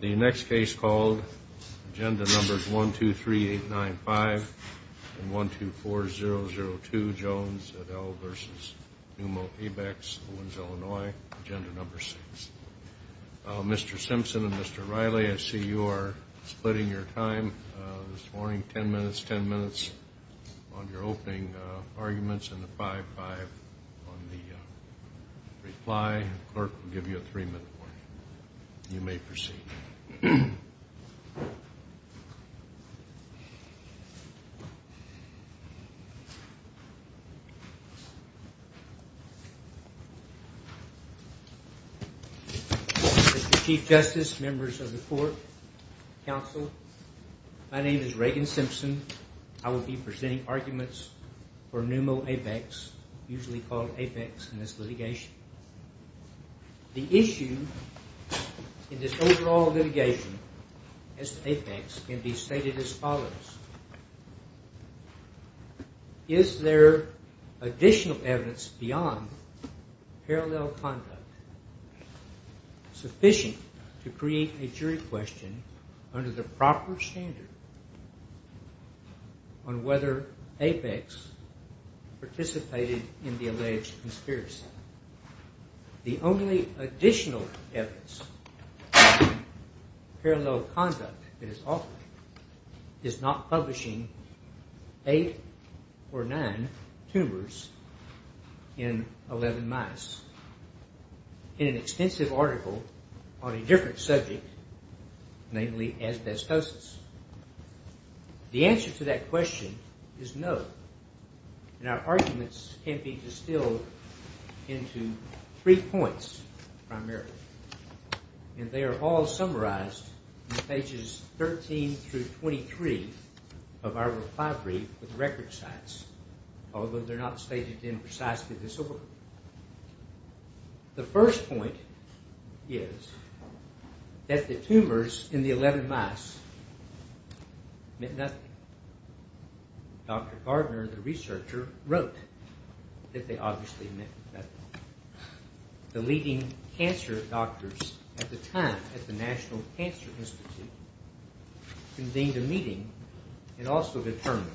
The next case called, Agenda Numbers 123895 and 124002, Jones et al. v. Pneumo Abex, Owens, Illinois, Agenda Number 6. Mr. Simpson and Mr. Riley, I see you are splitting your time this morning, 10 minutes, 10 minutes, on your opening arguments and a 5-5 on the reply. The clerk will give you a 3-minute warning. You may proceed. Mr. Chief Justice, members of the court, counsel, my name is Reagan Simpson. I will be presenting arguments for Pneumo Apex, usually called Apex in this litigation. The issue in this overall litigation as to Apex can be stated as follows. Is there additional evidence beyond parallel conduct sufficient to create a jury question under the proper standard on whether Apex participated in the alleged conspiracy? The only additional evidence parallel conduct is not publishing 8 or 9 tumors in 11 mice in an extensive article on a different subject, namely asbestosis. The answer to that question is no, and our arguments can be distilled into three points primarily, and they are all summarized in pages 13 through 23 of our reply brief with record sites, although they are not stated in precisely this order. The first point is that the tumors in the 11 mice meant nothing. Dr. Gardner, the researcher, wrote that they obviously meant nothing. The leading cancer doctors at the time at the National Cancer Institute convened a meeting and also determined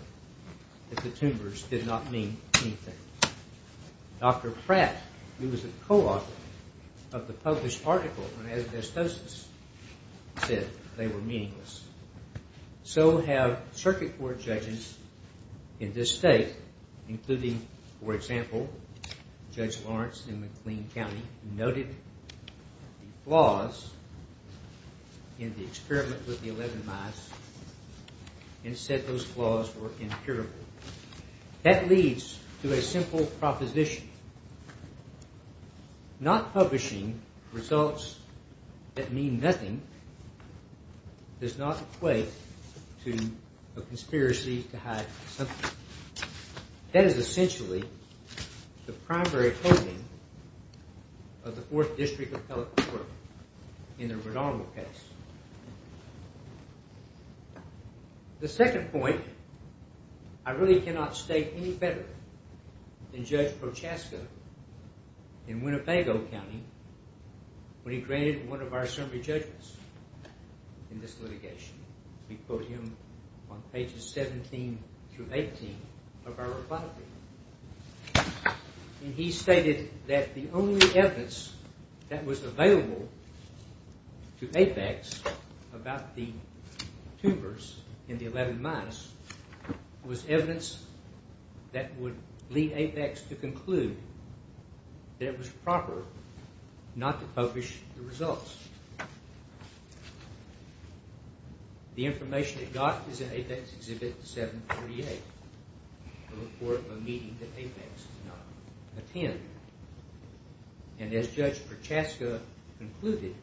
that the tumors did not mean anything. Dr. Pratt, who was a co-author of the published article on asbestosis, said they were meaningless. So have circuit court judges in this state, including, for example, Judge Lawrence in McLean County, who noted the flaws in the experiment with the 11 mice and said those flaws were impurable. That leads to a simple proposition. Not publishing results that mean nothing does not equate to a conspiracy to hide something. That is essentially the primary opposing of the Fourth District of California in the Redondo case. The second point, I really cannot state any better than Judge Prochaska in Winnebago County when he granted one of our summary judgments in this litigation. He stated that the only evidence that was available to APEX about the tumors in the 11 mice was evidence that would lead APEX to conclude that it was proper not to publish the results. The information it got was in APEX Exhibit 738, a report of a meeting that APEX did not attend. And as Judge Prochaska concluded,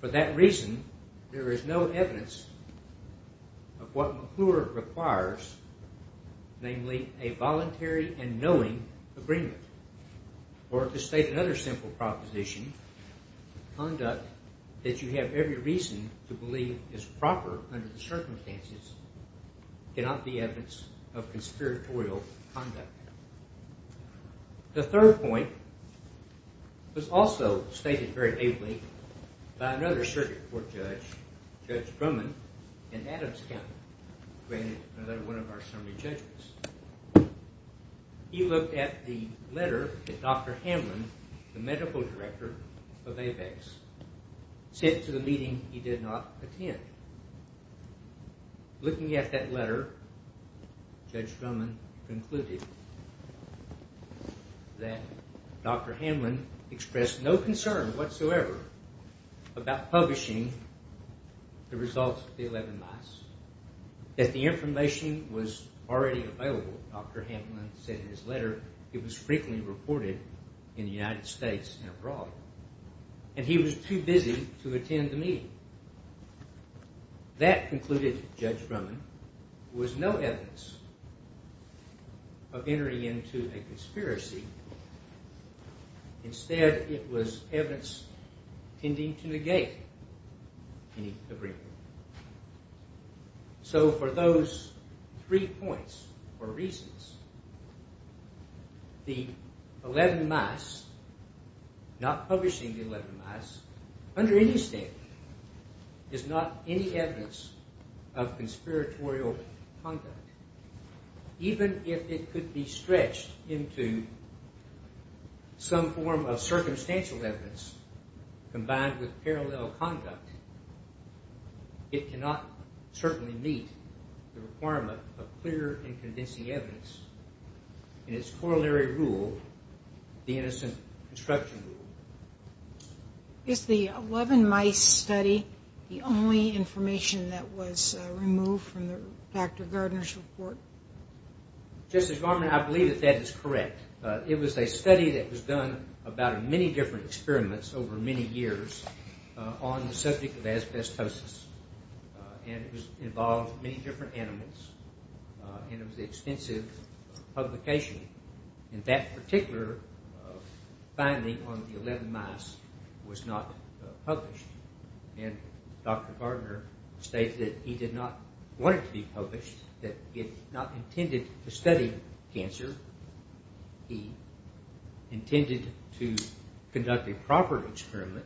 for that reason there is no evidence of what McClure requires, namely a voluntary and knowing agreement. Or to state another simple proposition, conduct that you have every reason to believe is proper under the circumstances cannot be evidence of conspiratorial conduct. The third point was also stated very ably by another circuit court judge, Judge Brumman, in Adams County, granted another one of our summary judgments. He looked at the letter that Dr. Hamlin, the medical director of APEX, sent to the meeting he did not attend. Looking at that letter, Judge Brumman concluded that Dr. Hamlin expressed no concern whatsoever about publishing the results of the 11 mice, that the information was already available. Dr. Hamlin said in his letter it was frequently reported in the United States and abroad. And he was too busy to attend the meeting. That concluded, Judge Brumman, was no evidence of entering into a conspiracy. Instead, it was evidence intending to negate any agreement. So for those three points, or reasons, the 11 mice, not publishing the 11 mice, under any standard, is not any evidence of conspiratorial conduct. Even if it could be stretched into some form of circumstantial evidence, combined with parallel conduct, it cannot certainly meet the requirement of clear and convincing evidence in its corollary rule, the innocent construction rule. Is the 11 mice study the only information that was removed from Dr. Gardner's report? Justice Brumman, I believe that that is correct. It was a study that was done about many different experiments over many years on the subject of asbestosis. And it involved many different animals. And it was an extensive publication. And that particular finding on the 11 mice was not published. And Dr. Gardner stated that he did not want it to be published, that he had not intended to study cancer. He intended to conduct a proper experiment,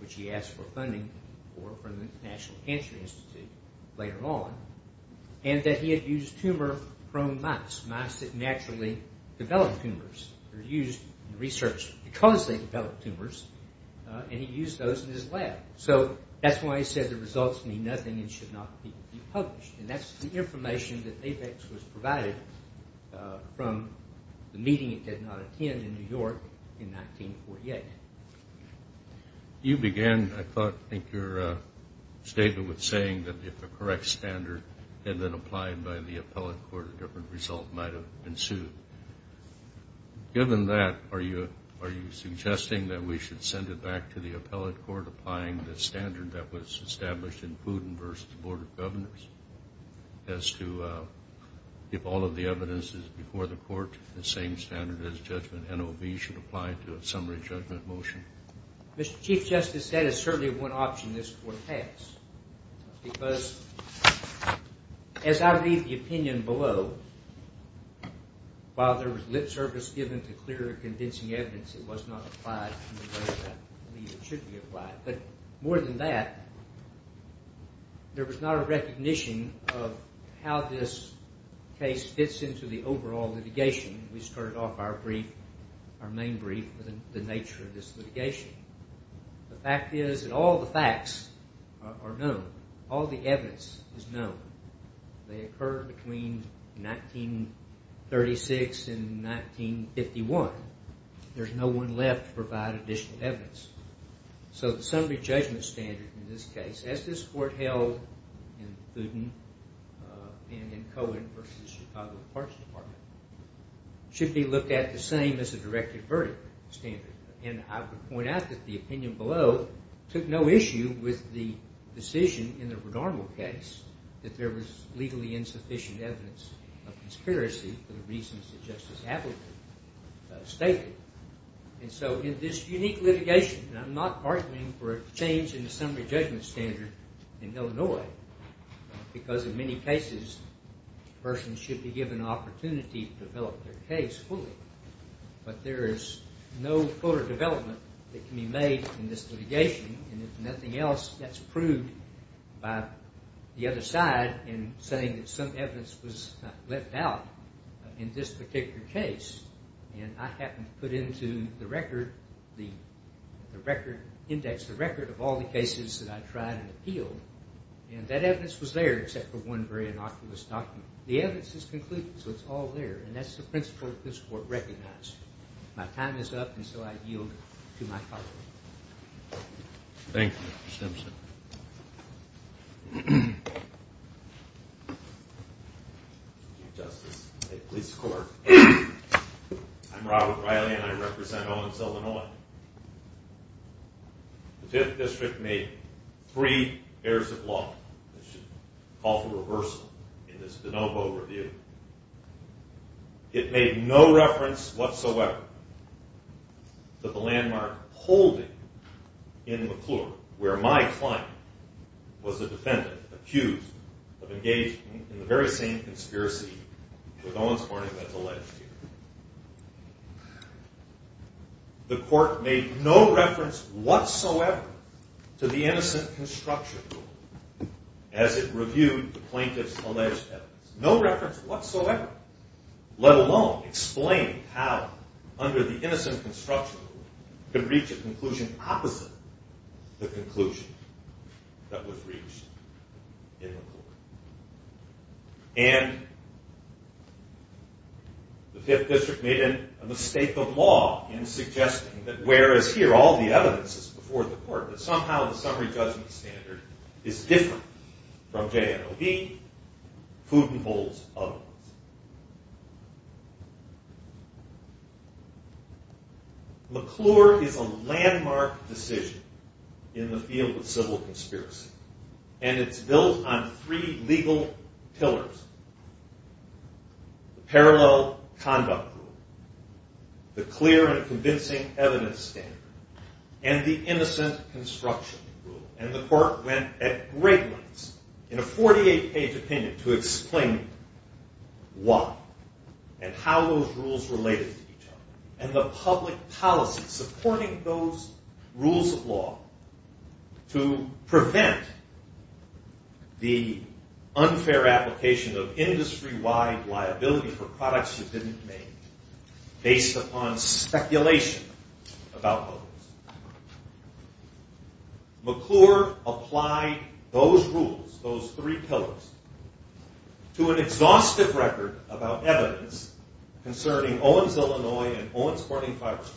which he asked for funding for from the National Cancer Institute later on. And that he had used tumor-prone mice, mice that naturally develop tumors, are used in research because they develop tumors, and he used those in his lab. So that's why he said the results mean nothing and should not be published. And that's the information that APEX was provided from the meeting it did not attend in New York in 1948. You began, I thought, I think your statement was saying that if a correct standard had been applied by the appellate court, a different result might have ensued. Given that, are you suggesting that we should send it back to the appellate court applying the standard that was established in Pudin versus the Board of Governors? As to if all of the evidence is before the court, the same standard as judgment NOB should apply to a summary judgment motion? Mr. Chief Justice, that is certainly one option this Court has. Because as I read the opinion below, while there was lip service given to clear and convincing evidence, it was not applied in the way that I believe it should be applied. But more than that, there was not a recognition of how this case fits into the overall litigation. We started off our brief, our main brief, with the nature of this litigation. The fact is that all the facts are known. All the evidence is known. They occurred between 1936 and 1951. There's no one left to provide additional evidence. So the summary judgment standard in this case, as this Court held in Pudin and in Cohen versus the Chicago Parks Department, should be looked at the same as a directed verdict standard. And I would point out that the opinion below took no issue with the decision in the Bernardo case that there was legally insufficient evidence of conspiracy for the reasons that Justice Appleton stated. And so in this unique litigation, and I'm not arguing for a change in the summary judgment standard in Illinois, because in many cases, a person should be given an opportunity to develop their case fully. But there is no further development that can be made in this litigation. And if nothing else, that's proved by the other side in saying that some evidence was left out in this particular case. And I happened to put into the record, the record index, the record of all the cases that I tried and appealed. And that evidence was there except for one very innocuous document. The evidence is concluded, so it's all there. And that's the principle that this Court recognized. My time is up, and so I yield to my colleague. Thank you, Mr. Simpson. Thank you, Justice, and may it please the Court. I'm Robert Riley, and I represent Owens, Illinois. The Fifth District made three errors of law. I should call for reversal in this de novo review. It made no reference whatsoever to the landmark holding in McClure, where my client was a defendant accused of engaging in the very same conspiracy with Owens Harding that's alleged here. The Court made no reference whatsoever to the innocent construction rule as it reviewed the plaintiff's alleged evidence. No reference whatsoever, let alone explain how, under the innocent construction rule, it could reach a conclusion opposite the conclusion that was reached in McClure. And the Fifth District made a mistake of law in suggesting that whereas here all the evidence is before the Court, that somehow the summary judgment standard is different from J&OB, food, and bowls of evidence. McClure is a landmark decision in the field of civil conspiracy, and it's built on three legal pillars. The parallel conduct rule, the clear and convincing evidence standard, and the innocent construction rule. And the Court went at great lengths in a 48-page opinion to explain why and how those rules related to each other. And the public policy supporting those rules of law to prevent the unfair application of industry-wide liability for products you didn't make based upon speculation about those. McClure applied those rules, those three pillars, to an exhaustive record about evidence concerning Owens, Illinois, and Owens Harding fiberglass.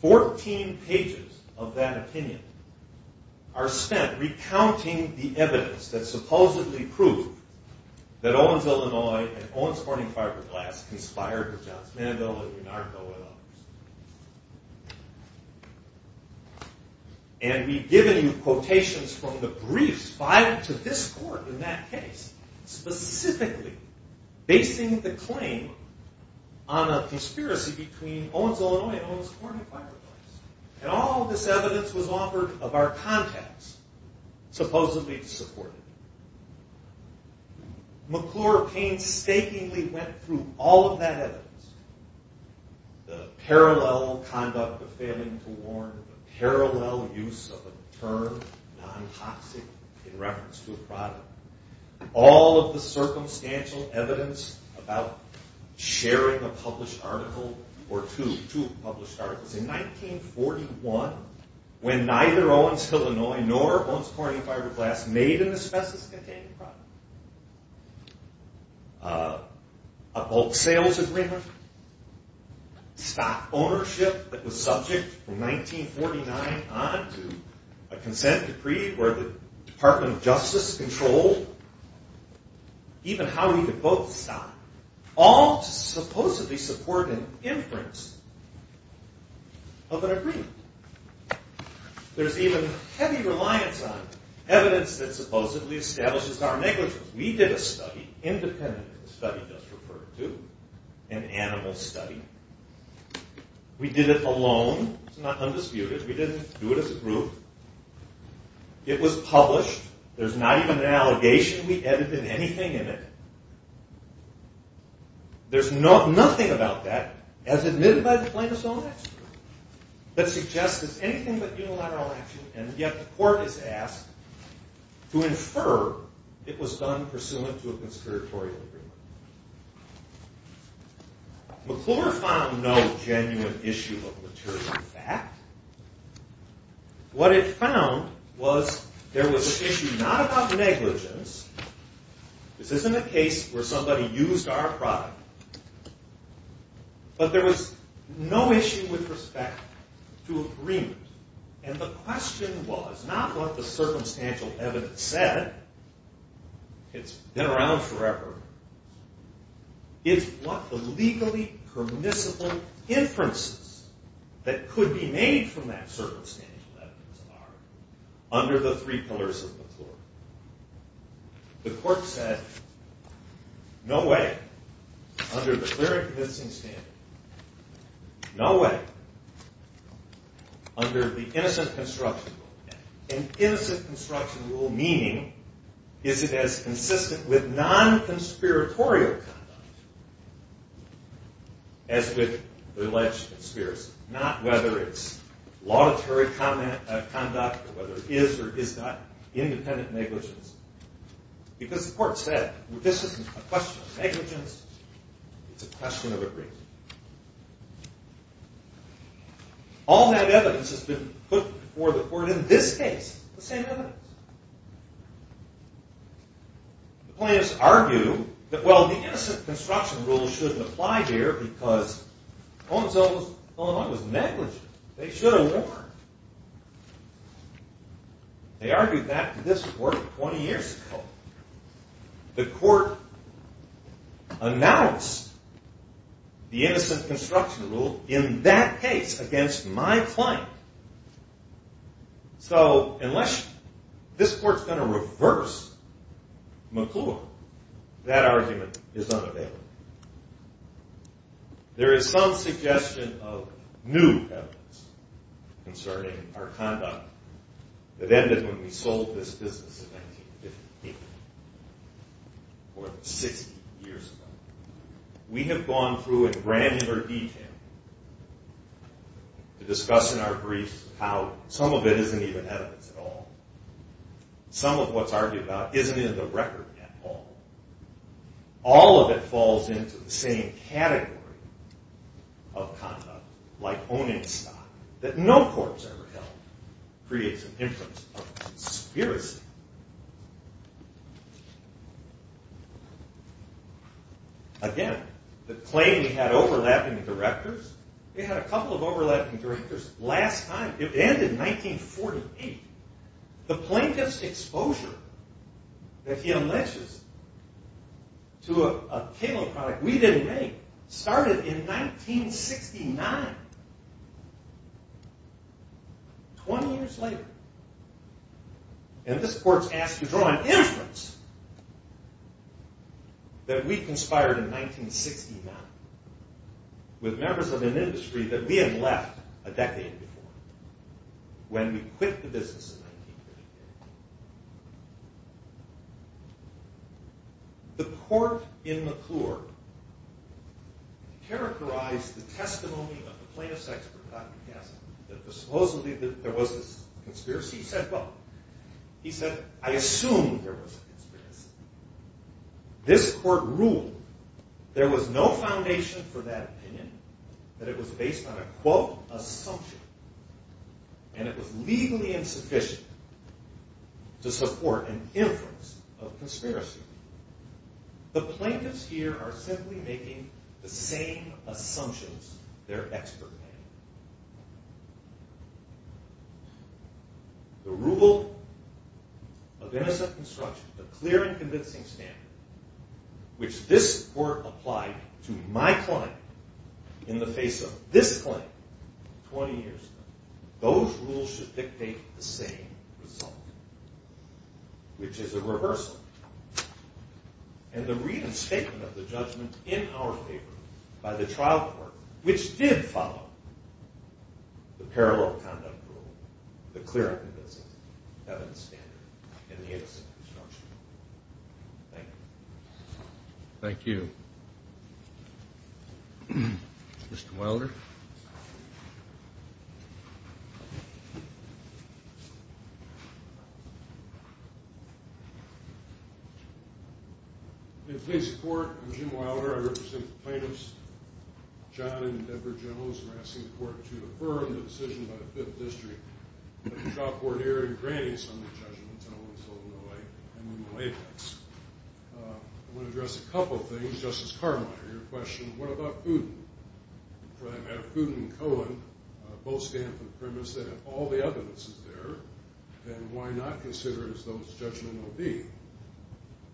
Fourteen pages of that opinion are spent recounting the evidence that supposedly proved that Owens, Illinois, and Owens Harding fiberglass conspired with J&OB. And we've given you quotations from the briefs filed to this Court in that case, specifically basing the claim on a conspiracy between Owens, Illinois, and Owens Harding fiberglass. And all this evidence was offered of our contacts, supposedly to support it. McClure painstakingly went through all of that evidence, the parallel conduct of failing to warn, the parallel use of the term non-toxic in reference to a product. All of the circumstantial evidence about sharing a published article or two published articles. In 1941, when neither Owens, Illinois, nor Owens Harding fiberglass made an asbestos-containing product, a bulk sales agreement, stock ownership that was subject from 1949 on to a consent decree where the Department of Justice controlled even how we could both stock. All to supposedly support an inference of an agreement. There's even heavy reliance on evidence that supposedly establishes our negligence. We did a study, independent of the study just referred to, an animal study. We did it alone. It's not undisputed. We didn't do it as a group. It was published. There's not even an allegation we added in anything in it. There's nothing about that, as admitted by the plaintiff's own expert, that suggests it's anything but unilateral action, and yet the court is asked to infer it was done pursuant to a conspiratorial agreement. McClure found no genuine issue of material fact. What it found was there was an issue not about negligence. This isn't a case where somebody used our product, but there was no issue with respect to agreement, and the question was not what the circumstantial evidence said. It's been around forever. It's what the legally permissible inferences that could be made from that circumstantial evidence are under the three pillars of McClure. The court said, no way, under the clear and convincing standard, no way, under the innocent construction rule, and innocent construction rule meaning is it as consistent with non-conspiratorial conduct as with alleged conspiracy. It's not whether it's laudatory conduct or whether it is or is not independent negligence, because the court said, this isn't a question of negligence, it's a question of agreement. All that evidence has been put before the court, in this case, the same evidence. The plaintiffs argue that, well, the innocent construction rule shouldn't apply here because Holmes-Owen was negligent. They should have warned. They argued that to this court 20 years ago. The court announced the innocent construction rule in that case against my client. So, unless this court's going to reverse McClure, that argument is unavailable. There is some suggestion of new evidence concerning our conduct that ended when we sold this business in 1958, more than 60 years ago. We have gone through in granular detail to discuss in our briefs how some of it isn't even evidence at all. Some of what's argued about isn't in the record at all. All of it falls into the same category of conduct, like owning stock that no court's ever held creates an influence of conspiracy. Again, the claim we had overlapping directors. We had a couple of overlapping directors last time. It ended in 1948. The plaintiff's exposure that he alleges to a cable product we didn't make started in 1969, 20 years later. And this court's asked to draw an inference that we conspired in 1969 with members of an industry that we had left a decade before, when we quit the business in 1958. The court in McClure characterized the testimony of the plaintiff's expert, Dr. Cassidy, that supposedly there was a conspiracy. He said, well, he said, I assume there was a conspiracy. This court ruled there was no foundation for that opinion, that it was based on a quote, assumption. And it was legally insufficient to support an inference of conspiracy. The plaintiffs here are simply making the same assumptions their expert made. The rule of innocent construction, the clear and convincing standard, which this court applied to my client in the face of this claim 20 years ago, those rules should dictate the same result, which is a rehearsal. And the reinstatement of the judgment in our favor by the trial court, which did follow the parallel conduct rule, the clear and convincing evidence standard, and the innocent construction rule. Thank you. Thank you. Mr. Wilder. In plaintiff's court, I'm Jim Wilder. I represent the plaintiffs, John and Deborah Jones. I'm asking the court to affirm the decision by the Fifth District that the trial court here in granting some of the judgments, and I want to address a couple of things. Justice Carmine, your question, what about Fuden? For that matter, Fuden and Cohen both stand for the premise that if all the evidence is there, then why not consider it as though it's judgmental D?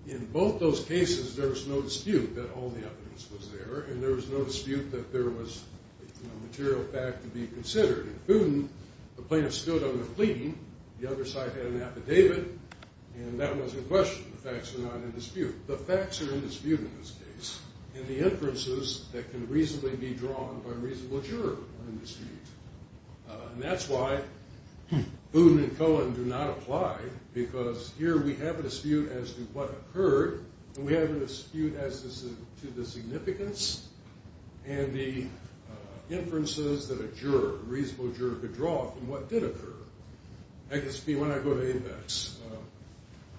In both those cases, there was no dispute that all the evidence was there, and there was no dispute that there was material fact to be considered. In Fuden, the plaintiff stood on a plea. The other side had an affidavit, and that was a question. The facts were not in dispute. The facts are in dispute in this case, and the inferences that can reasonably be drawn by a reasonable juror are in dispute. And that's why Fuden and Cohen do not apply, because here we have a dispute as to what occurred, and we have a dispute as to the significance and the inferences that a juror, a reasonable juror could draw from what did occur. I guess when I go to ABEX,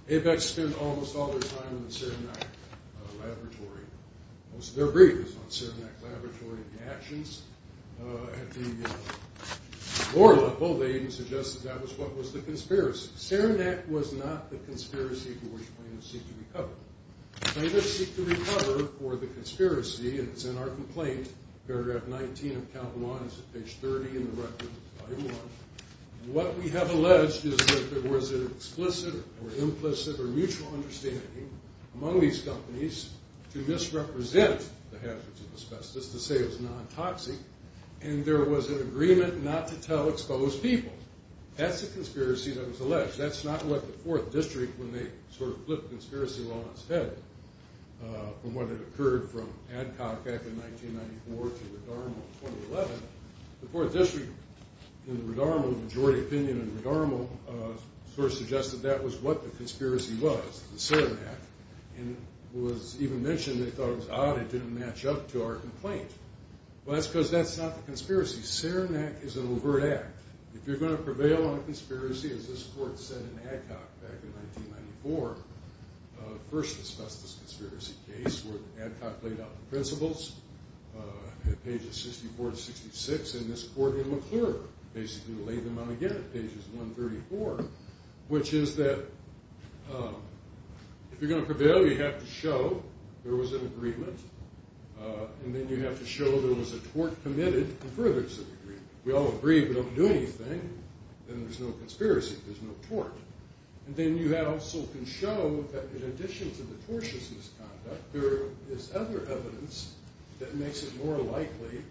ABEX spends almost all their time in the Saranac Laboratory. Most of their brief is on Saranac Laboratory and the actions. At the lower level, they even suggest that that was what was the conspiracy. Saranac was not the conspiracy for which plaintiffs seek to recover. Plaintiffs seek to recover for the conspiracy, and it's in our complaint, paragraph 19 of Calvin Law, and it's at page 30 in the record, volume 1. What we have alleged is that there was an explicit or implicit or mutual understanding among these companies to misrepresent the hazards of asbestos, to say it was non-toxic, and there was an agreement not to tell exposed people. That's a conspiracy that was alleged. That's not what the Fourth District, when they sort of flipped conspiracy law on its head, from what had occurred from Adcock back in 1994 to Redarmo in 2011. The Fourth District, in the Redarmo majority opinion in Redarmo, sort of suggested that was what the conspiracy was, the Saranac, and was even mentioned they thought it was odd it didn't match up to our complaint. Well, that's because that's not the conspiracy. Saranac is an overt act. If you're going to prevail on a conspiracy, as this court said in Adcock back in 1994, first asbestos conspiracy case where Adcock laid out the principles at pages 64 to 66, and this court in McClure basically laid them out again at pages 134, which is that if you're going to prevail, you have to show there was an agreement, and then you have to show there was a tort committed in furtherance of the agreement. We all agree we don't do anything. Then there's no conspiracy. There's no tort. And then you also can show that in addition to the tortious misconduct, there is other evidence that makes it more likely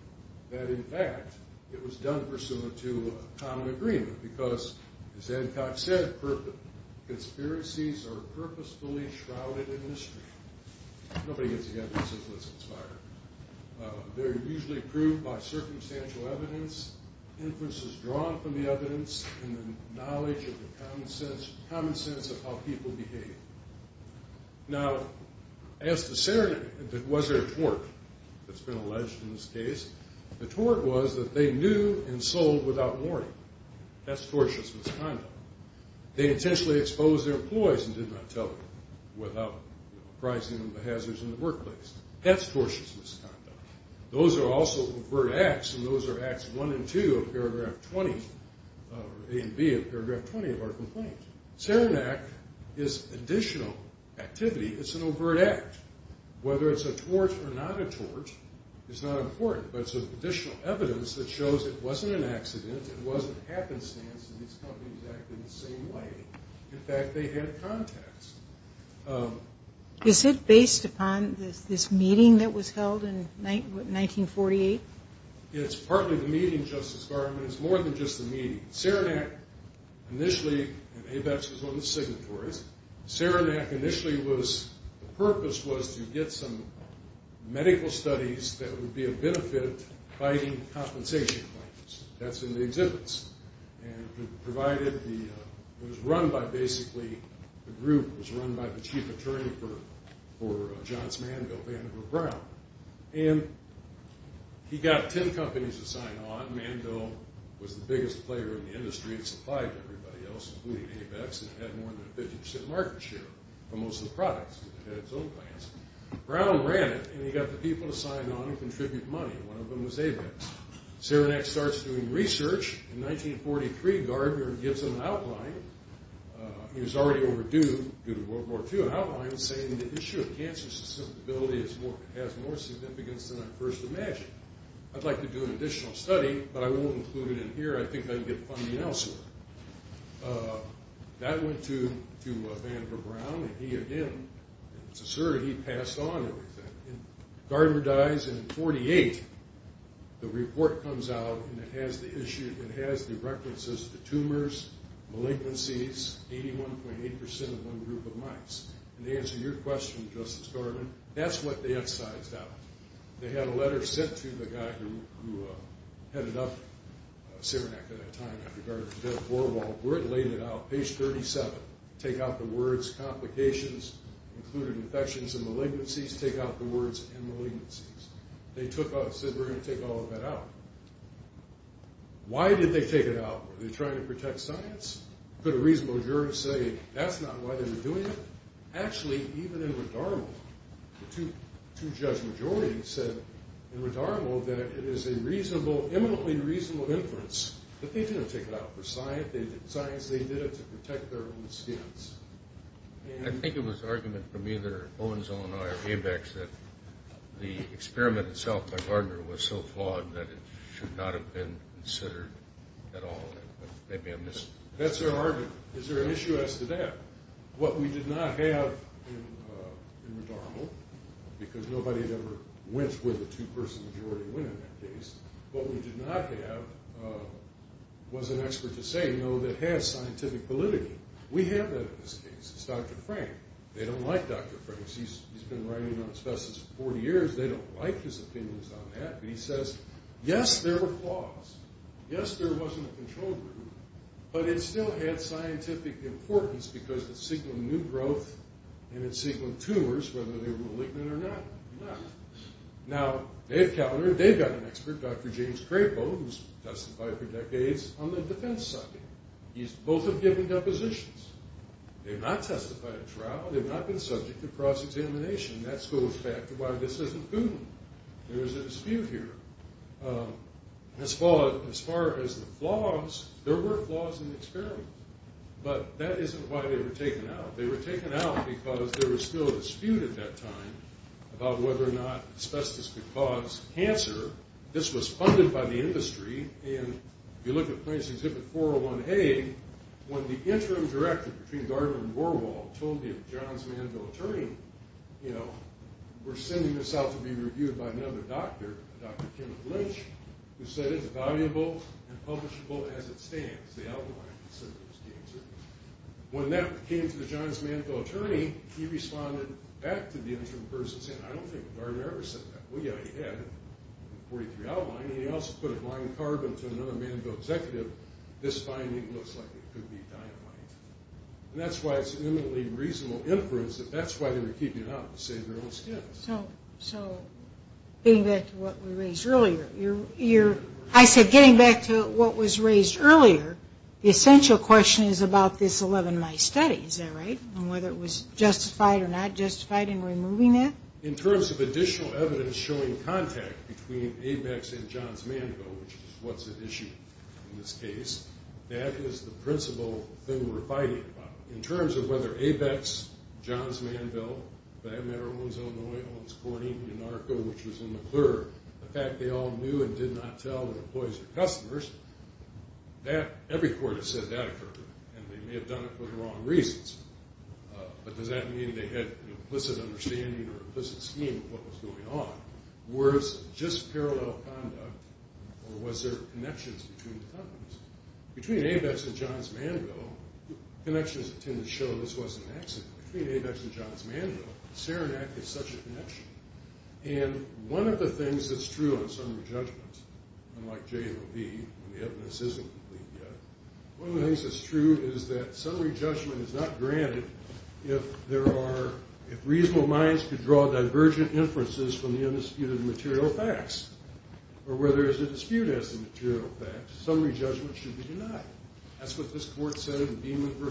that, in fact, it was done pursuant to a common agreement because, as Adcock said, conspiracies are purposefully shrouded in mystery. Nobody gets the evidence until it's expired. They're usually proved by circumstantial evidence, inferences drawn from the evidence, and the knowledge of the common sense of how people behave. Now, as to Saranac, was there a tort that's been alleged in this case? The tort was that they knew and sold without warning. That's tortious misconduct. They intentionally exposed their employees and did not tell them without rising the hazards in the workplace. That's tortious misconduct. Those are also overt acts, and those are Acts 1 and 2 of Paragraph 20 or A and B of Paragraph 20 of our complaint. Saranac is additional activity. It's an overt act. Whether it's a tort or not a tort is not important, but it's additional evidence that shows it wasn't an accident, it wasn't happenstance, and these companies acted the same way. In fact, they had contacts. Is it based upon this meeting that was held in 1948? It's partly the meeting, Justice Garland. It's more than just the meeting. Saranac initially, and ABETS was one of the signatories, Saranac initially was, the purpose was to get some medical studies that would be a benefit fighting compensation claims. That's in the exhibits. It was run by basically the group. It was run by the chief attorney for Johns Manville, Vandiver Brown. He got 10 companies to sign on. Manville was the biggest player in the industry. It supplied to everybody else, including ABETS, and it had more than a 50% market share for most of the products. It had its own plans. Brown ran it, and he got the people to sign on and contribute money. One of them was ABETS. Saranac starts doing research. In 1943, Gardner gives him an outline. He was already overdue due to World War II. An outline saying the issue of cancer susceptibility has more significance than I first imagined. I'd like to do an additional study, but I won't include it in here. I think I'd get funding elsewhere. That went to Vandiver Brown, and he, again, it's asserted he passed on everything. Gardner dies, and in 1948, the report comes out, and it has the references to tumors, malignancies, 81.8% of one group of mice. To answer your question, Justice Gardner, that's what they excised out. They had a letter sent to the guy who headed up Saranac at that time after Gardner was dead, page 37, take out the words complications, including infections and malignancies, take out the words inmalignancies. They took out, said, we're going to take all of that out. Why did they take it out? Were they trying to protect science? Could a reasonable jurist say that's not why they were doing it? Actually, even in Redarmo, the two judge majorities said in Redarmo that it is an eminently reasonable inference that they didn't take it out for science. They did it to protect their own students. I think it was an argument from either Owens, Illinois, or ABEX that the experiment itself by Gardner was so flawed that it should not have been considered at all. Maybe I missed it. That's their argument. Is there an issue as to that? What we did not have in Redarmo, because nobody had ever went where the two-person majority went in that case, what we did not have was an expert to say, no, that has scientific validity. We have that in this case. It's Dr. Frank. They don't like Dr. Frank. He's been writing on asbestos for 40 years. They don't like his opinions on that, but he says, yes, there were flaws. Yes, there wasn't a control group, but it still had scientific importance because it signaled new growth and it signaled tumors, whether they were malignant or not. Now, they've got an expert, Dr. James Crapo, who's testified for decades on the defense side. Both have given depositions. They've not testified at trial. They've not been subject to cross-examination. That goes back to why this isn't proven. There is a dispute here. As far as the flaws, there were flaws in the experiment, but that isn't why they were taken out. They were taken out because there was still a dispute at that time about whether or not asbestos could cause cancer. This was funded by the industry. If you look at Plaintiff's Exhibit 401A, when the interim director between Gardner and Warwol told him, John's Manville attorney, we're sending this out to be reviewed by another doctor, Dr. Kenneth Lynch, who said it's valuable and publishable as it stands. The outline considers cancer. When that came to the John's Manville attorney, he responded back to the interim person saying, I don't think Gardner ever said that. Well, yeah, he did. The 43 outline. He also put a blind carbon to another Manville executive. This finding looks like it could be dynamite. And that's why it's eminently reasonable inference that that's why they were keeping it out, to save their own skin. So getting back to what we raised earlier, I said getting back to what was raised earlier, the essential question is about this 11-mice study. Is that right? And whether it was justified or not justified in removing it? In terms of additional evidence showing contact between ABEX and John's Manville, which is what's at issue in this case, that is the principal thing we're fighting about. In terms of whether ABEX, John's Manville, if I have a matter, Owens-Illinois, Owens-Corning, the fact they all knew and did not tell their employees or customers, every court has said that occurred, and they may have done it for the wrong reasons. But does that mean they had an implicit understanding or implicit scheme of what was going on? Was it just parallel conduct, or was there connections between the companies? Between ABEX and John's Manville, connections tend to show this wasn't an accident. Between ABEX and John's Manville, Saranac is such a connection. And one of the things that's true in summary judgments, unlike J&OB, when the evidence isn't complete yet, one of the things that's true is that summary judgment is not granted if reasonable minds could draw divergent inferences from the undisputed material facts, or where there is a dispute as to the material facts, summary judgment should be denied. That's what this court said in Beeman v.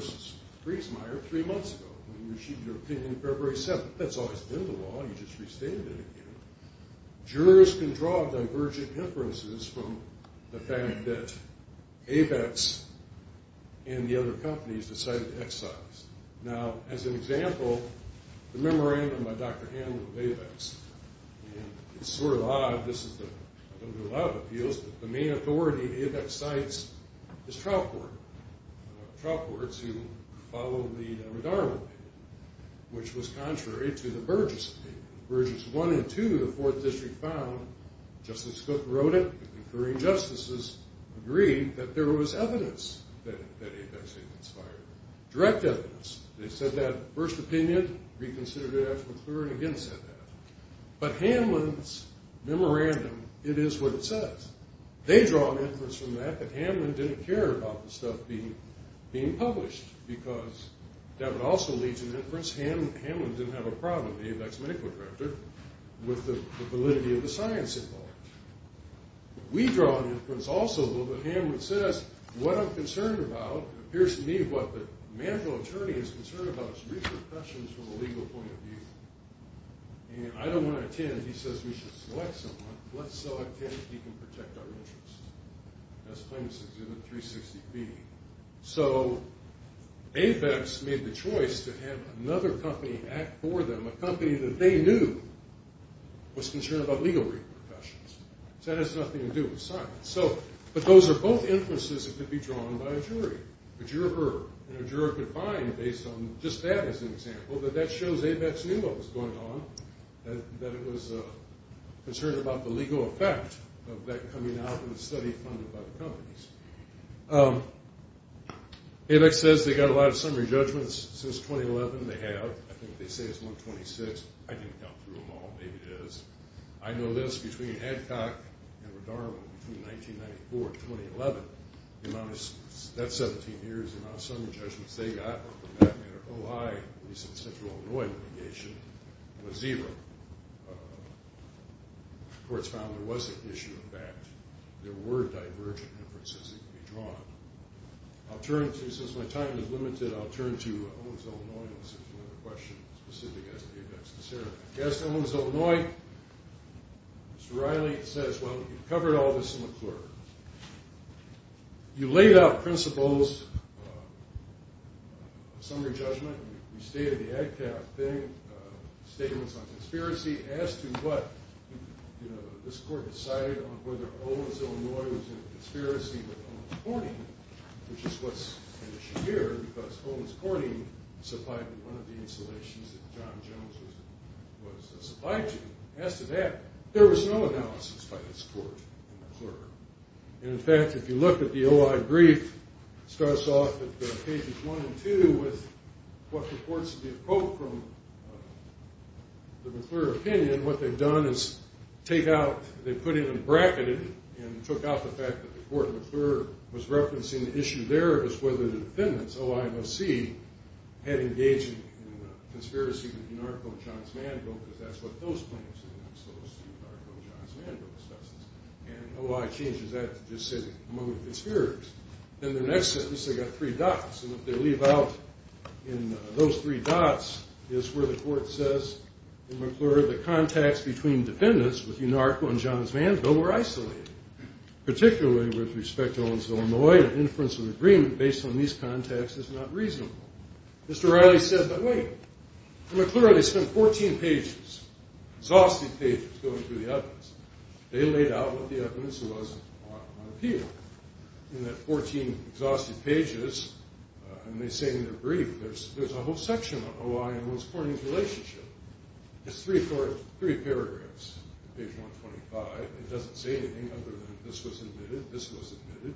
Friesmeier three months ago, when you received your opinion February 7th. That's always been the law. You just restated it again. Jurors can draw divergent inferences from the fact that ABEX and the other companies decided to excise. Now, as an example, the memorandum by Dr. Hanlon of ABEX, and it's sort of odd. I don't do a lot of appeals, but the main authority ABEX cites is trial courts, trial courts who follow the Redarmo paper, which was contrary to the Burgess paper. Burgess 1 and 2 of the Fourth District found, Justice Cook wrote it, the concurring justices agreed that there was evidence that ABEX had expired, direct evidence. They said that first opinion, reconsidered it after McClure, and again said that. But Hanlon's memorandum, it is what it says. They draw an inference from that that Hanlon didn't care about the stuff being published, because that would also lead to an inference. Hanlon didn't have a problem, the ABEX medical director, with the validity of the science involved. We draw an inference also, though, that Hanlon says what I'm concerned about appears to me what the managerial attorney is concerned about is repercussions from a legal point of view. And I don't want to attend if he says we should select someone. Let's select him if he can protect our interests. That's Claims Exhibit 360B. So ABEX made the choice to have another company act for them, a company that they knew was concerned about legal repercussions. So that has nothing to do with science. But those are both inferences that could be drawn by a jury. A juror could find, based on just that as an example, that that shows ABEX knew what was going on, that it was concerned about the legal effect of that coming out in a study funded by the companies. ABEX says they got a lot of summary judgments since 2011. They have. I think they say it's 126. I didn't count through them all. Maybe it is. I know this. Between Hancock and McDermott, between 1994 and 2011, that's 17 years, the amount of summary judgments they got, for that matter, OHI, at least in Central Illinois litigation, was zero. The courts found there was an issue of fact. There were divergent inferences that could be drawn. Since my time is limited, I'll turn to Owens, Illinois, and see if you have a question specific to ABEX. Yes, Owens, Illinois. Mr. Riley says, well, you've covered all this in the court. You laid out principles, summary judgment, you stated the AgCap thing, statements on conspiracy. As to what this court decided on whether Owens, Illinois was in a conspiracy with Owens Corning, which is what's an issue here because Owens Corning supplied me one of the installations that John Jones was a supply to. As to that, there was no analysis by this court in McClure. And, in fact, if you look at the OI brief, it starts off at pages one and two with what reports to be a quote from the McClure opinion. What they've done is take out, they've put in a bracketed and took out the fact that the court in McClure was referencing the issue there as to whether the defendants, OIOC, had engaged in a conspiracy with Unarco and Johns Manville because that's what those claims were, those Unarco and Johns Manville suspicions. And OI changes that to just say among the conspirators. Then the next sentence, they've got three dots. And what they leave out in those three dots is where the court says in McClure the contacts between defendants with Unarco and Johns Manville were isolated, particularly with respect to Owens-Illinois. An inference of agreement based on these contacts is not reasonable. Mr. O'Reilly says, but wait. In McClure, they spent 14 pages, exhaustive pages, going through the evidence. They laid out what the evidence was on appeal. In that 14 exhaustive pages, and they say in their brief, there's a whole section on OI and what's forming the relationship. It's three paragraphs. It's page 125. It doesn't say anything other than this was admitted, this was admitted.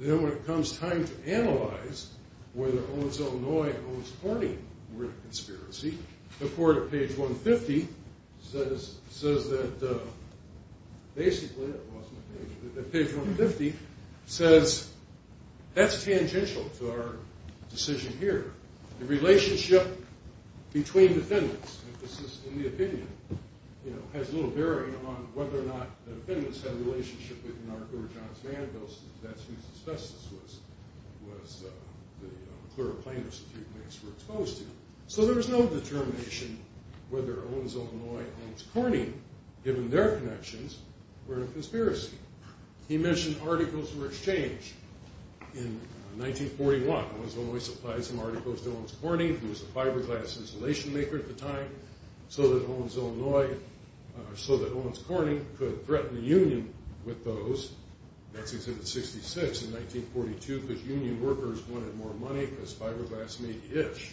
Then when it comes time to analyze whether Owens-Illinois and Owens-Harney were in a conspiracy, the court at page 150 says that basically that page 150 says that's tangential to our decision here. The relationship between defendants, and this is in the opinion, has little bearing on whether or not the defendants had a relationship with Unarco or Johns Manville. That's whose asbestos the McClure plaintiffs were exposed to. So there was no determination whether Owens-Illinois and Owens-Harney, given their connections, were in a conspiracy. He mentioned articles were exchanged in 1941. Owens-Illinois supplied some articles to Owens-Harney, who was a fiberglass insulation maker at the time, so that Owens-Corning could threaten the union with those. That's exhibited at 66 in 1942 because union workers wanted more money because fiberglass made the itch.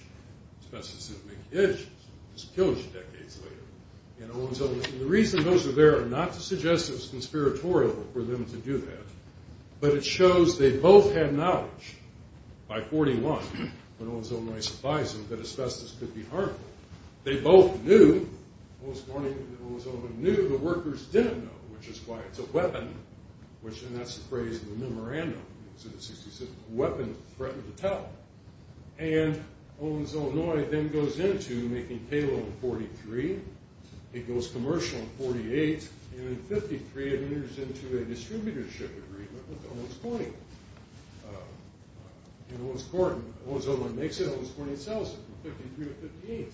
Asbestos didn't make the itch. It was killed decades later. And the reason those are there are not to suggest it was conspiratorial for them to do that, but it shows they both had knowledge by 41 when Owens-Illinois supplies them that asbestos could be harmful. They both knew. Owens-Corning and Owens-Illinois knew. The workers didn't know, which is why it's a weapon, and that's the phrase in the memorandum. A weapon threatened to tell. And Owens-Illinois then goes into making payload in 43. It goes commercial in 48. And in 53, it enters into a distributorship agreement with Owens-Corning. And Owens-Illinois makes it. Owens-Corning sells it from 53 to 58.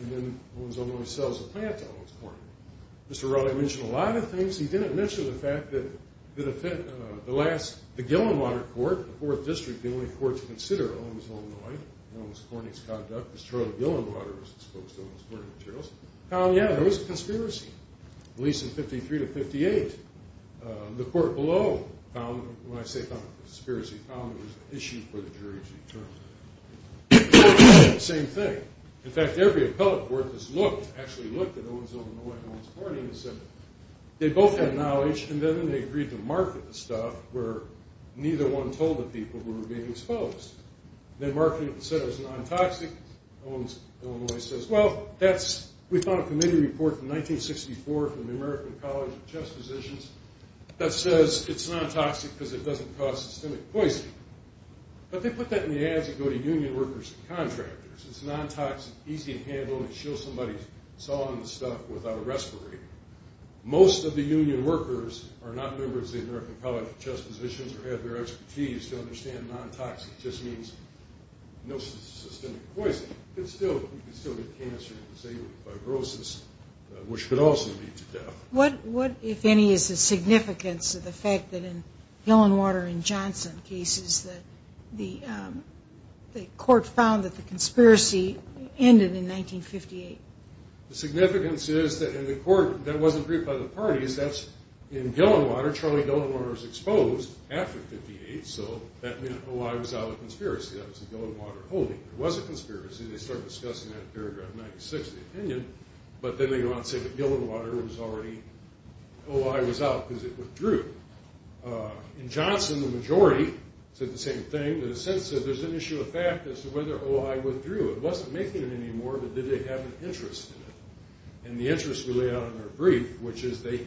And then Owens-Illinois sells the plant to Owens-Corning. Mr. Rowley mentioned a lot of things. He didn't mention the fact that the last, the Gillenwater Court, the 4th District, the only court to consider Owens-Illinois and Owens-Corning's conduct, because Charlie Gillenwater was exposed to Owens-Corning materials, found, yeah, there was a conspiracy, at least in 53 to 58. The court below found, when I say found a conspiracy, found there was an issue for the jury to determine. The court did the same thing. In fact, every appellate court that's looked, actually looked at Owens-Illinois and Owens-Corning and said they both had knowledge, and then they agreed to market the stuff where neither one told the people who were being exposed. They marketed it and said it was non-toxic. Owens-Illinois says, well, that's, we found a committee report from 1964 from the American College of Chest Physicians that says it's non-toxic because it doesn't cause systemic poisoning. But they put that in the ads that go to union workers and contractors. It's non-toxic, easy to handle, and it shows somebody sawing the stuff without a respirator. Most of the union workers are not members of the American College of Chest Physicians or have their expertise to understand non-toxic just means no systemic poisoning. You can still get cancer and say fibrosis, which could also lead to death. What, if any, is the significance of the fact that in Gillenwater and Johnson cases that the court found that the conspiracy ended in 1958? The significance is that in the court that wasn't briefed by the parties, that's in Gillenwater. Charlie Gillenwater was exposed after 58, so that meant, oh, I was out of the conspiracy. That was the Gillenwater holding. It was a conspiracy. They started discussing that in paragraph 96 of the opinion, but then they go on to say that Gillenwater was already, oh, I was out because it withdrew. In Johnson, the majority said the same thing. In a sense, there's an issue of fact as to whether, oh, I withdrew. It wasn't making it anymore, but did they have an interest in it? And the interest was laid out in their brief, which is they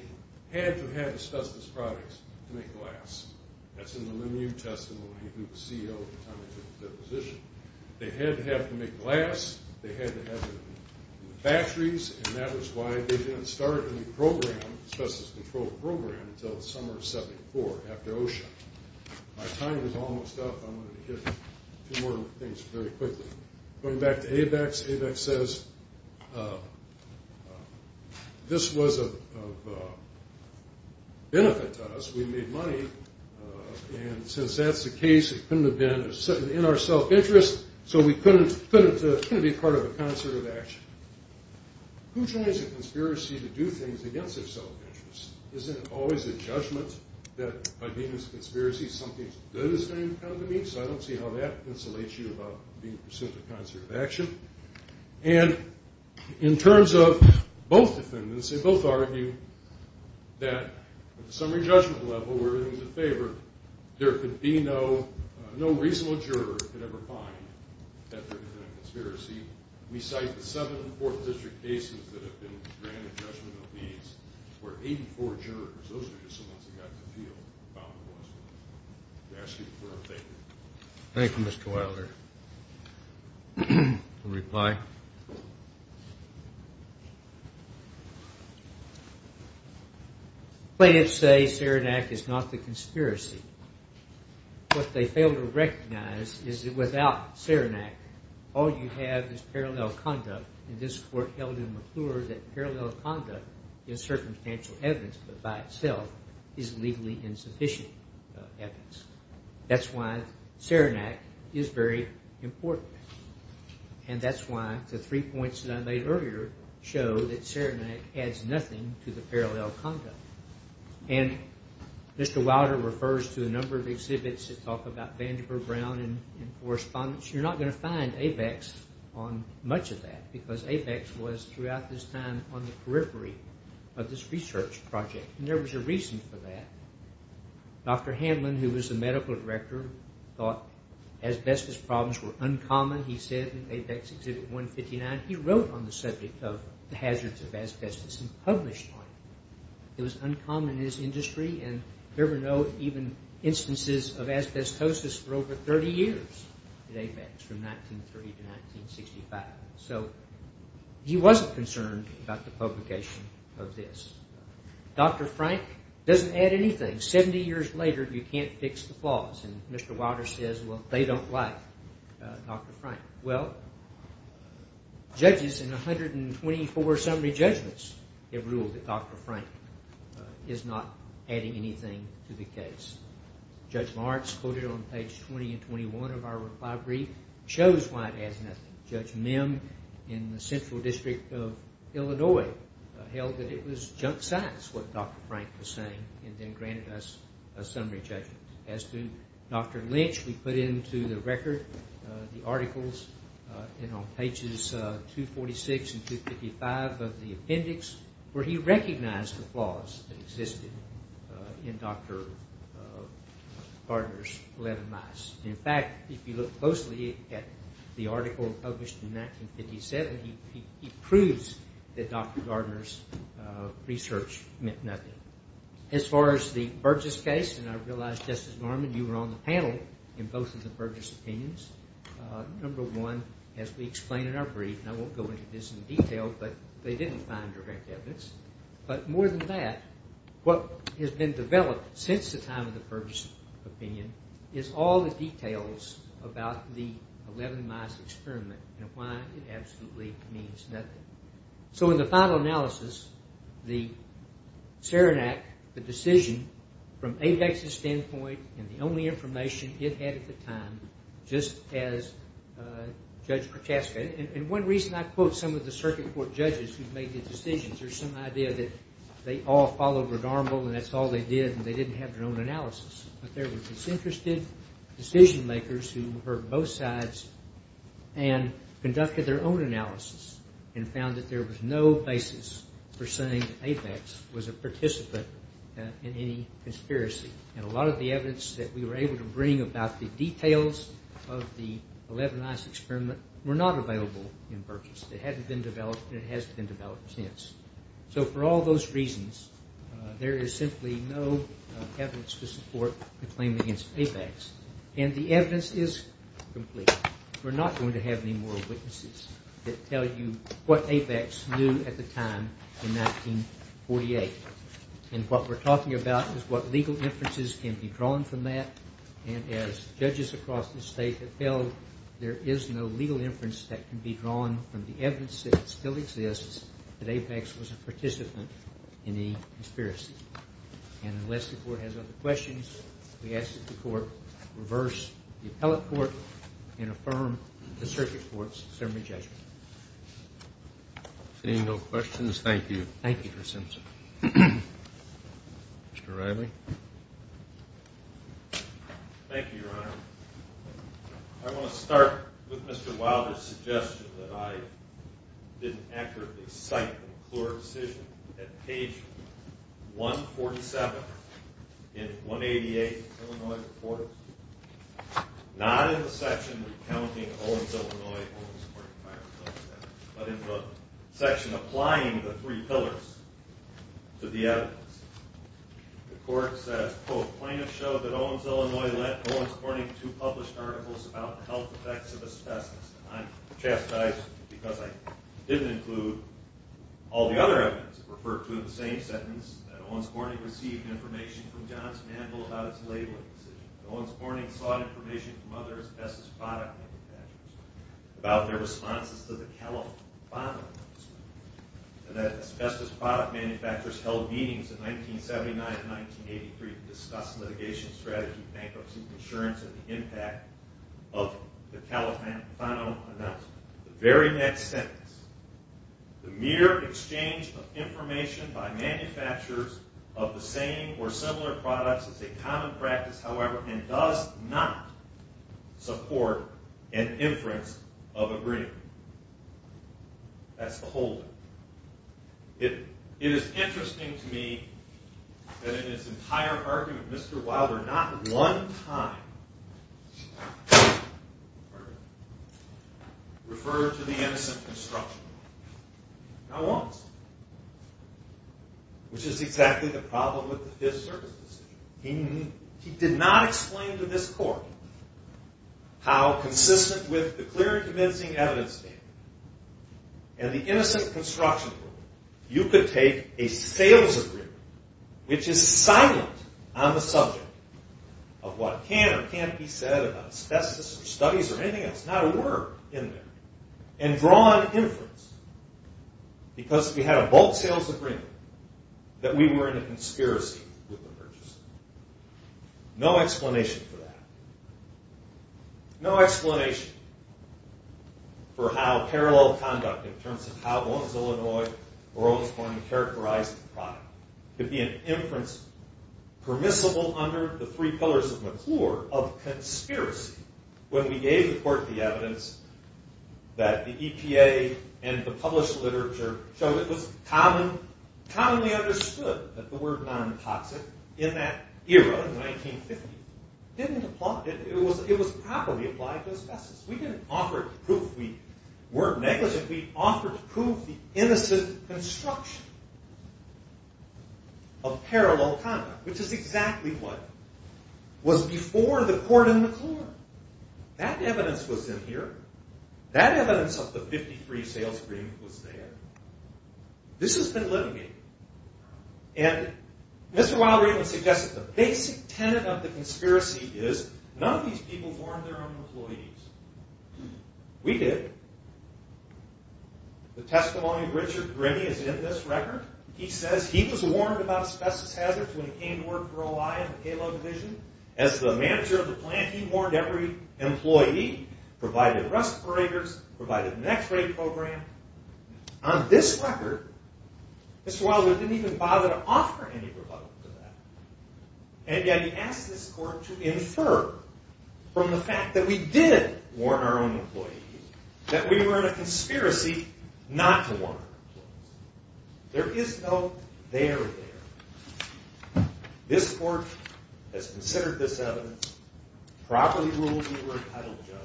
had to have asbestos products to make glass. That's in the Lemieux testimony, who was CEO at the time they took their position. They had to have to make glass. They had to have batteries, and that was why they didn't start any program, asbestos control program, until the summer of 74 after OSHA. My time is almost up. I'm going to get a few more things very quickly. Going back to ABEX, ABEX says this was of benefit to us. We made money, and since that's the case, it couldn't have been in our self-interest, so we couldn't be part of a concert of action. Who joins a conspiracy to do things against their self-interest? Isn't it always a judgment that by being a conspiracy, something's good is going to come to me? So I don't see how that insulates you about being a concert of action. And in terms of both defendants, they both argue that at the summary judgment level, we're in their favor. There could be no reasonable juror that could ever find that there was a conspiracy. We cite the seven Fourth District cases that have been granted judgment of these where 84 jurors, those are just the ones that got the feel about what was going on. We ask you for your favor. Thank you, Mr. Wilder. A reply? No. Plaintiffs say Saranac is not the conspiracy. What they fail to recognize is that without Saranac, all you have is parallel conduct, and this Court held in McClure that parallel conduct is circumstantial evidence, but by itself is legally insufficient evidence. That's why Saranac is very important, and that's why the three points that I made earlier show that Saranac adds nothing to the parallel conduct. And Mr. Wilder refers to a number of exhibits that talk about Vandiver, Brown, and correspondence. You're not going to find ABEX on much of that because ABEX was throughout this time on the periphery of this research project, and there was a reason for that. Dr. Hanlon, who was the medical director, thought asbestos problems were uncommon. He said in ABEX Exhibit 159, he wrote on the subject of the hazards of asbestos and published on it. It was uncommon in his industry, and you ever note even instances of asbestosis for over 30 years at ABEX from 1930 to 1965. So he wasn't concerned about the publication of this. Dr. Frank doesn't add anything. And 70 years later, you can't fix the flaws, and Mr. Wilder says, well, they don't like Dr. Frank. Well, judges in 124 summary judgments have ruled that Dr. Frank is not adding anything to the case. Judge Martz quoted on page 20 and 21 of our reply brief shows why it adds nothing. Judge Mim in the Central District of Illinois held that it was junk science what Dr. Frank was saying and then granted us a summary judgment. As to Dr. Lynch, we put into the record the articles and on pages 246 and 255 of the appendix where he recognized the flaws that existed in Dr. Gardner's 11 mice. In fact, if you look closely at the article published in 1957, he proves that Dr. Gardner's research meant nothing. As far as the Burgess case, and I realize, Justice Norman, you were on the panel in both of the Burgess opinions. Number one, as we explain in our brief, and I won't go into this in detail, but they didn't find direct evidence. But more than that, what has been developed since the time of the Burgess opinion is all the details about the 11 mice experiment and why it absolutely means nothing. So in the final analysis, the Serenac, the decision, from ABEX's standpoint, and the only information it had at the time, just as Judge Protaska, and one reason I quote some of the circuit court judges who've made the decisions, there's some idea that they all followed Red Armable and that's all they did and they didn't have their own analysis. But there were disinterested decision makers who heard both sides and conducted their own analysis. And found that there was no basis for saying that ABEX was a participant in any conspiracy. And a lot of the evidence that we were able to bring about the details of the 11 mice experiment were not available in Burgess. It hadn't been developed and it hasn't been developed since. So for all those reasons, there is simply no evidence to support the claim against ABEX. And the evidence is complete. We're not going to have any more witnesses that tell you what ABEX knew at the time in 1948. And what we're talking about is what legal inferences can be drawn from that. And as judges across the state have held, there is no legal inference that can be drawn from the evidence that still exists that ABEX was a participant in any conspiracy. And unless the court has other questions, we ask that the court reverse the appellate court and affirm the circuit court's summary judgment. Seeing no questions, thank you. Thank you, Mr. Simpson. Mr. Riley. Thank you, Your Honor. I want to start with Mr. Wilder's suggestion that I didn't accurately cite the McClure decision at page 147 in 188 of the Illinois report. Not in the section recounting Owens-Illinois and Owens-Cornyn firing themselves, but in the section applying the three pillars to the evidence. The court says, quote, plaintiffs show that Owens-Illinois led Owens-Cornyn to published articles about the health effects of asbestos. I'm chastised because I didn't include all the other evidence referred to in the same sentence, that Owens-Cornyn received information from Johnson & Handel about its labeling decision. Owens-Cornyn sought information from other asbestos product manufacturers about their responses to the Califano announcement, and that asbestos product manufacturers held meetings in 1979 and 1983 to discuss litigation strategy, bankruptcy insurance, and the impact of the Califano announcement. The very next sentence, the mere exchange of information by manufacturers of the same or similar products is a common practice, however, and does not support an inference of agreement. That's the whole of it. It is interesting to me that in this entire argument, Mr. Wilder not one time referred to the innocent construction. Not once. Which is exactly the problem with the Fifth Circuit's decision. He did not explain to this court how consistent with the clear convincing evidence statement and the innocent construction rule, you could take a sales agreement, which is silent on the subject of what can or can't be said about asbestos or studies or anything else, not a word in there, and draw an inference because if we had a bold sales agreement that we were in a conspiracy with the purchaser. No explanation for that. No explanation for how parallel conduct in terms of how one's Illinois or how one's going to characterize the product could be an inference permissible under the three pillars of McClure of conspiracy when we gave the court the evidence that the EPA and the published literature showed it was commonly understood that the word non-toxic in that era in 1950 didn't apply. It was properly applied to asbestos. We didn't offer it to prove we weren't negligent. We offered to prove the innocent construction of parallel conduct, which is exactly what was before the court in McClure. That evidence was in here. That evidence of the 53 sales agreement was there. This has been litigated. And Mr. Wilder even suggested the basic tenet of the conspiracy is none of these people warned their own employees. We did. The testimony of Richard Grimmie is in this record. He says he was warned about asbestos hazards when he came to work for OI in the payload division. As the manager of the plant, he warned every employee, provided respirators, provided an x-ray program. On this record, Mr. Wilder didn't even bother to offer any rebuttal to that. And yet he asked this court to infer from the fact that we did warn our own employees, that we were in a conspiracy not to warn our employees. There is no there there. This court has considered this evidence, properly ruled we were entitled to judgment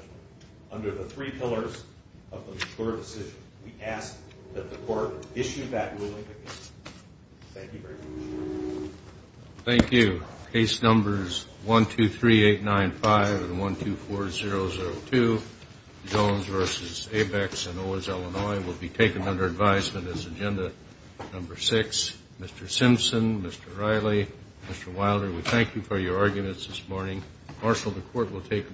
under the three pillars of the McClure decision. We ask that the court issue that ruling again. Thank you very much. Thank you. Case numbers 123-895 and 124-002, Jones v. Abex in Owens, Illinois, will be taken under advisement as agenda number six. Mr. Simpson, Mr. Riley, Mr. Wilder, we thank you for your arguments this morning. Marshall, the court will take them.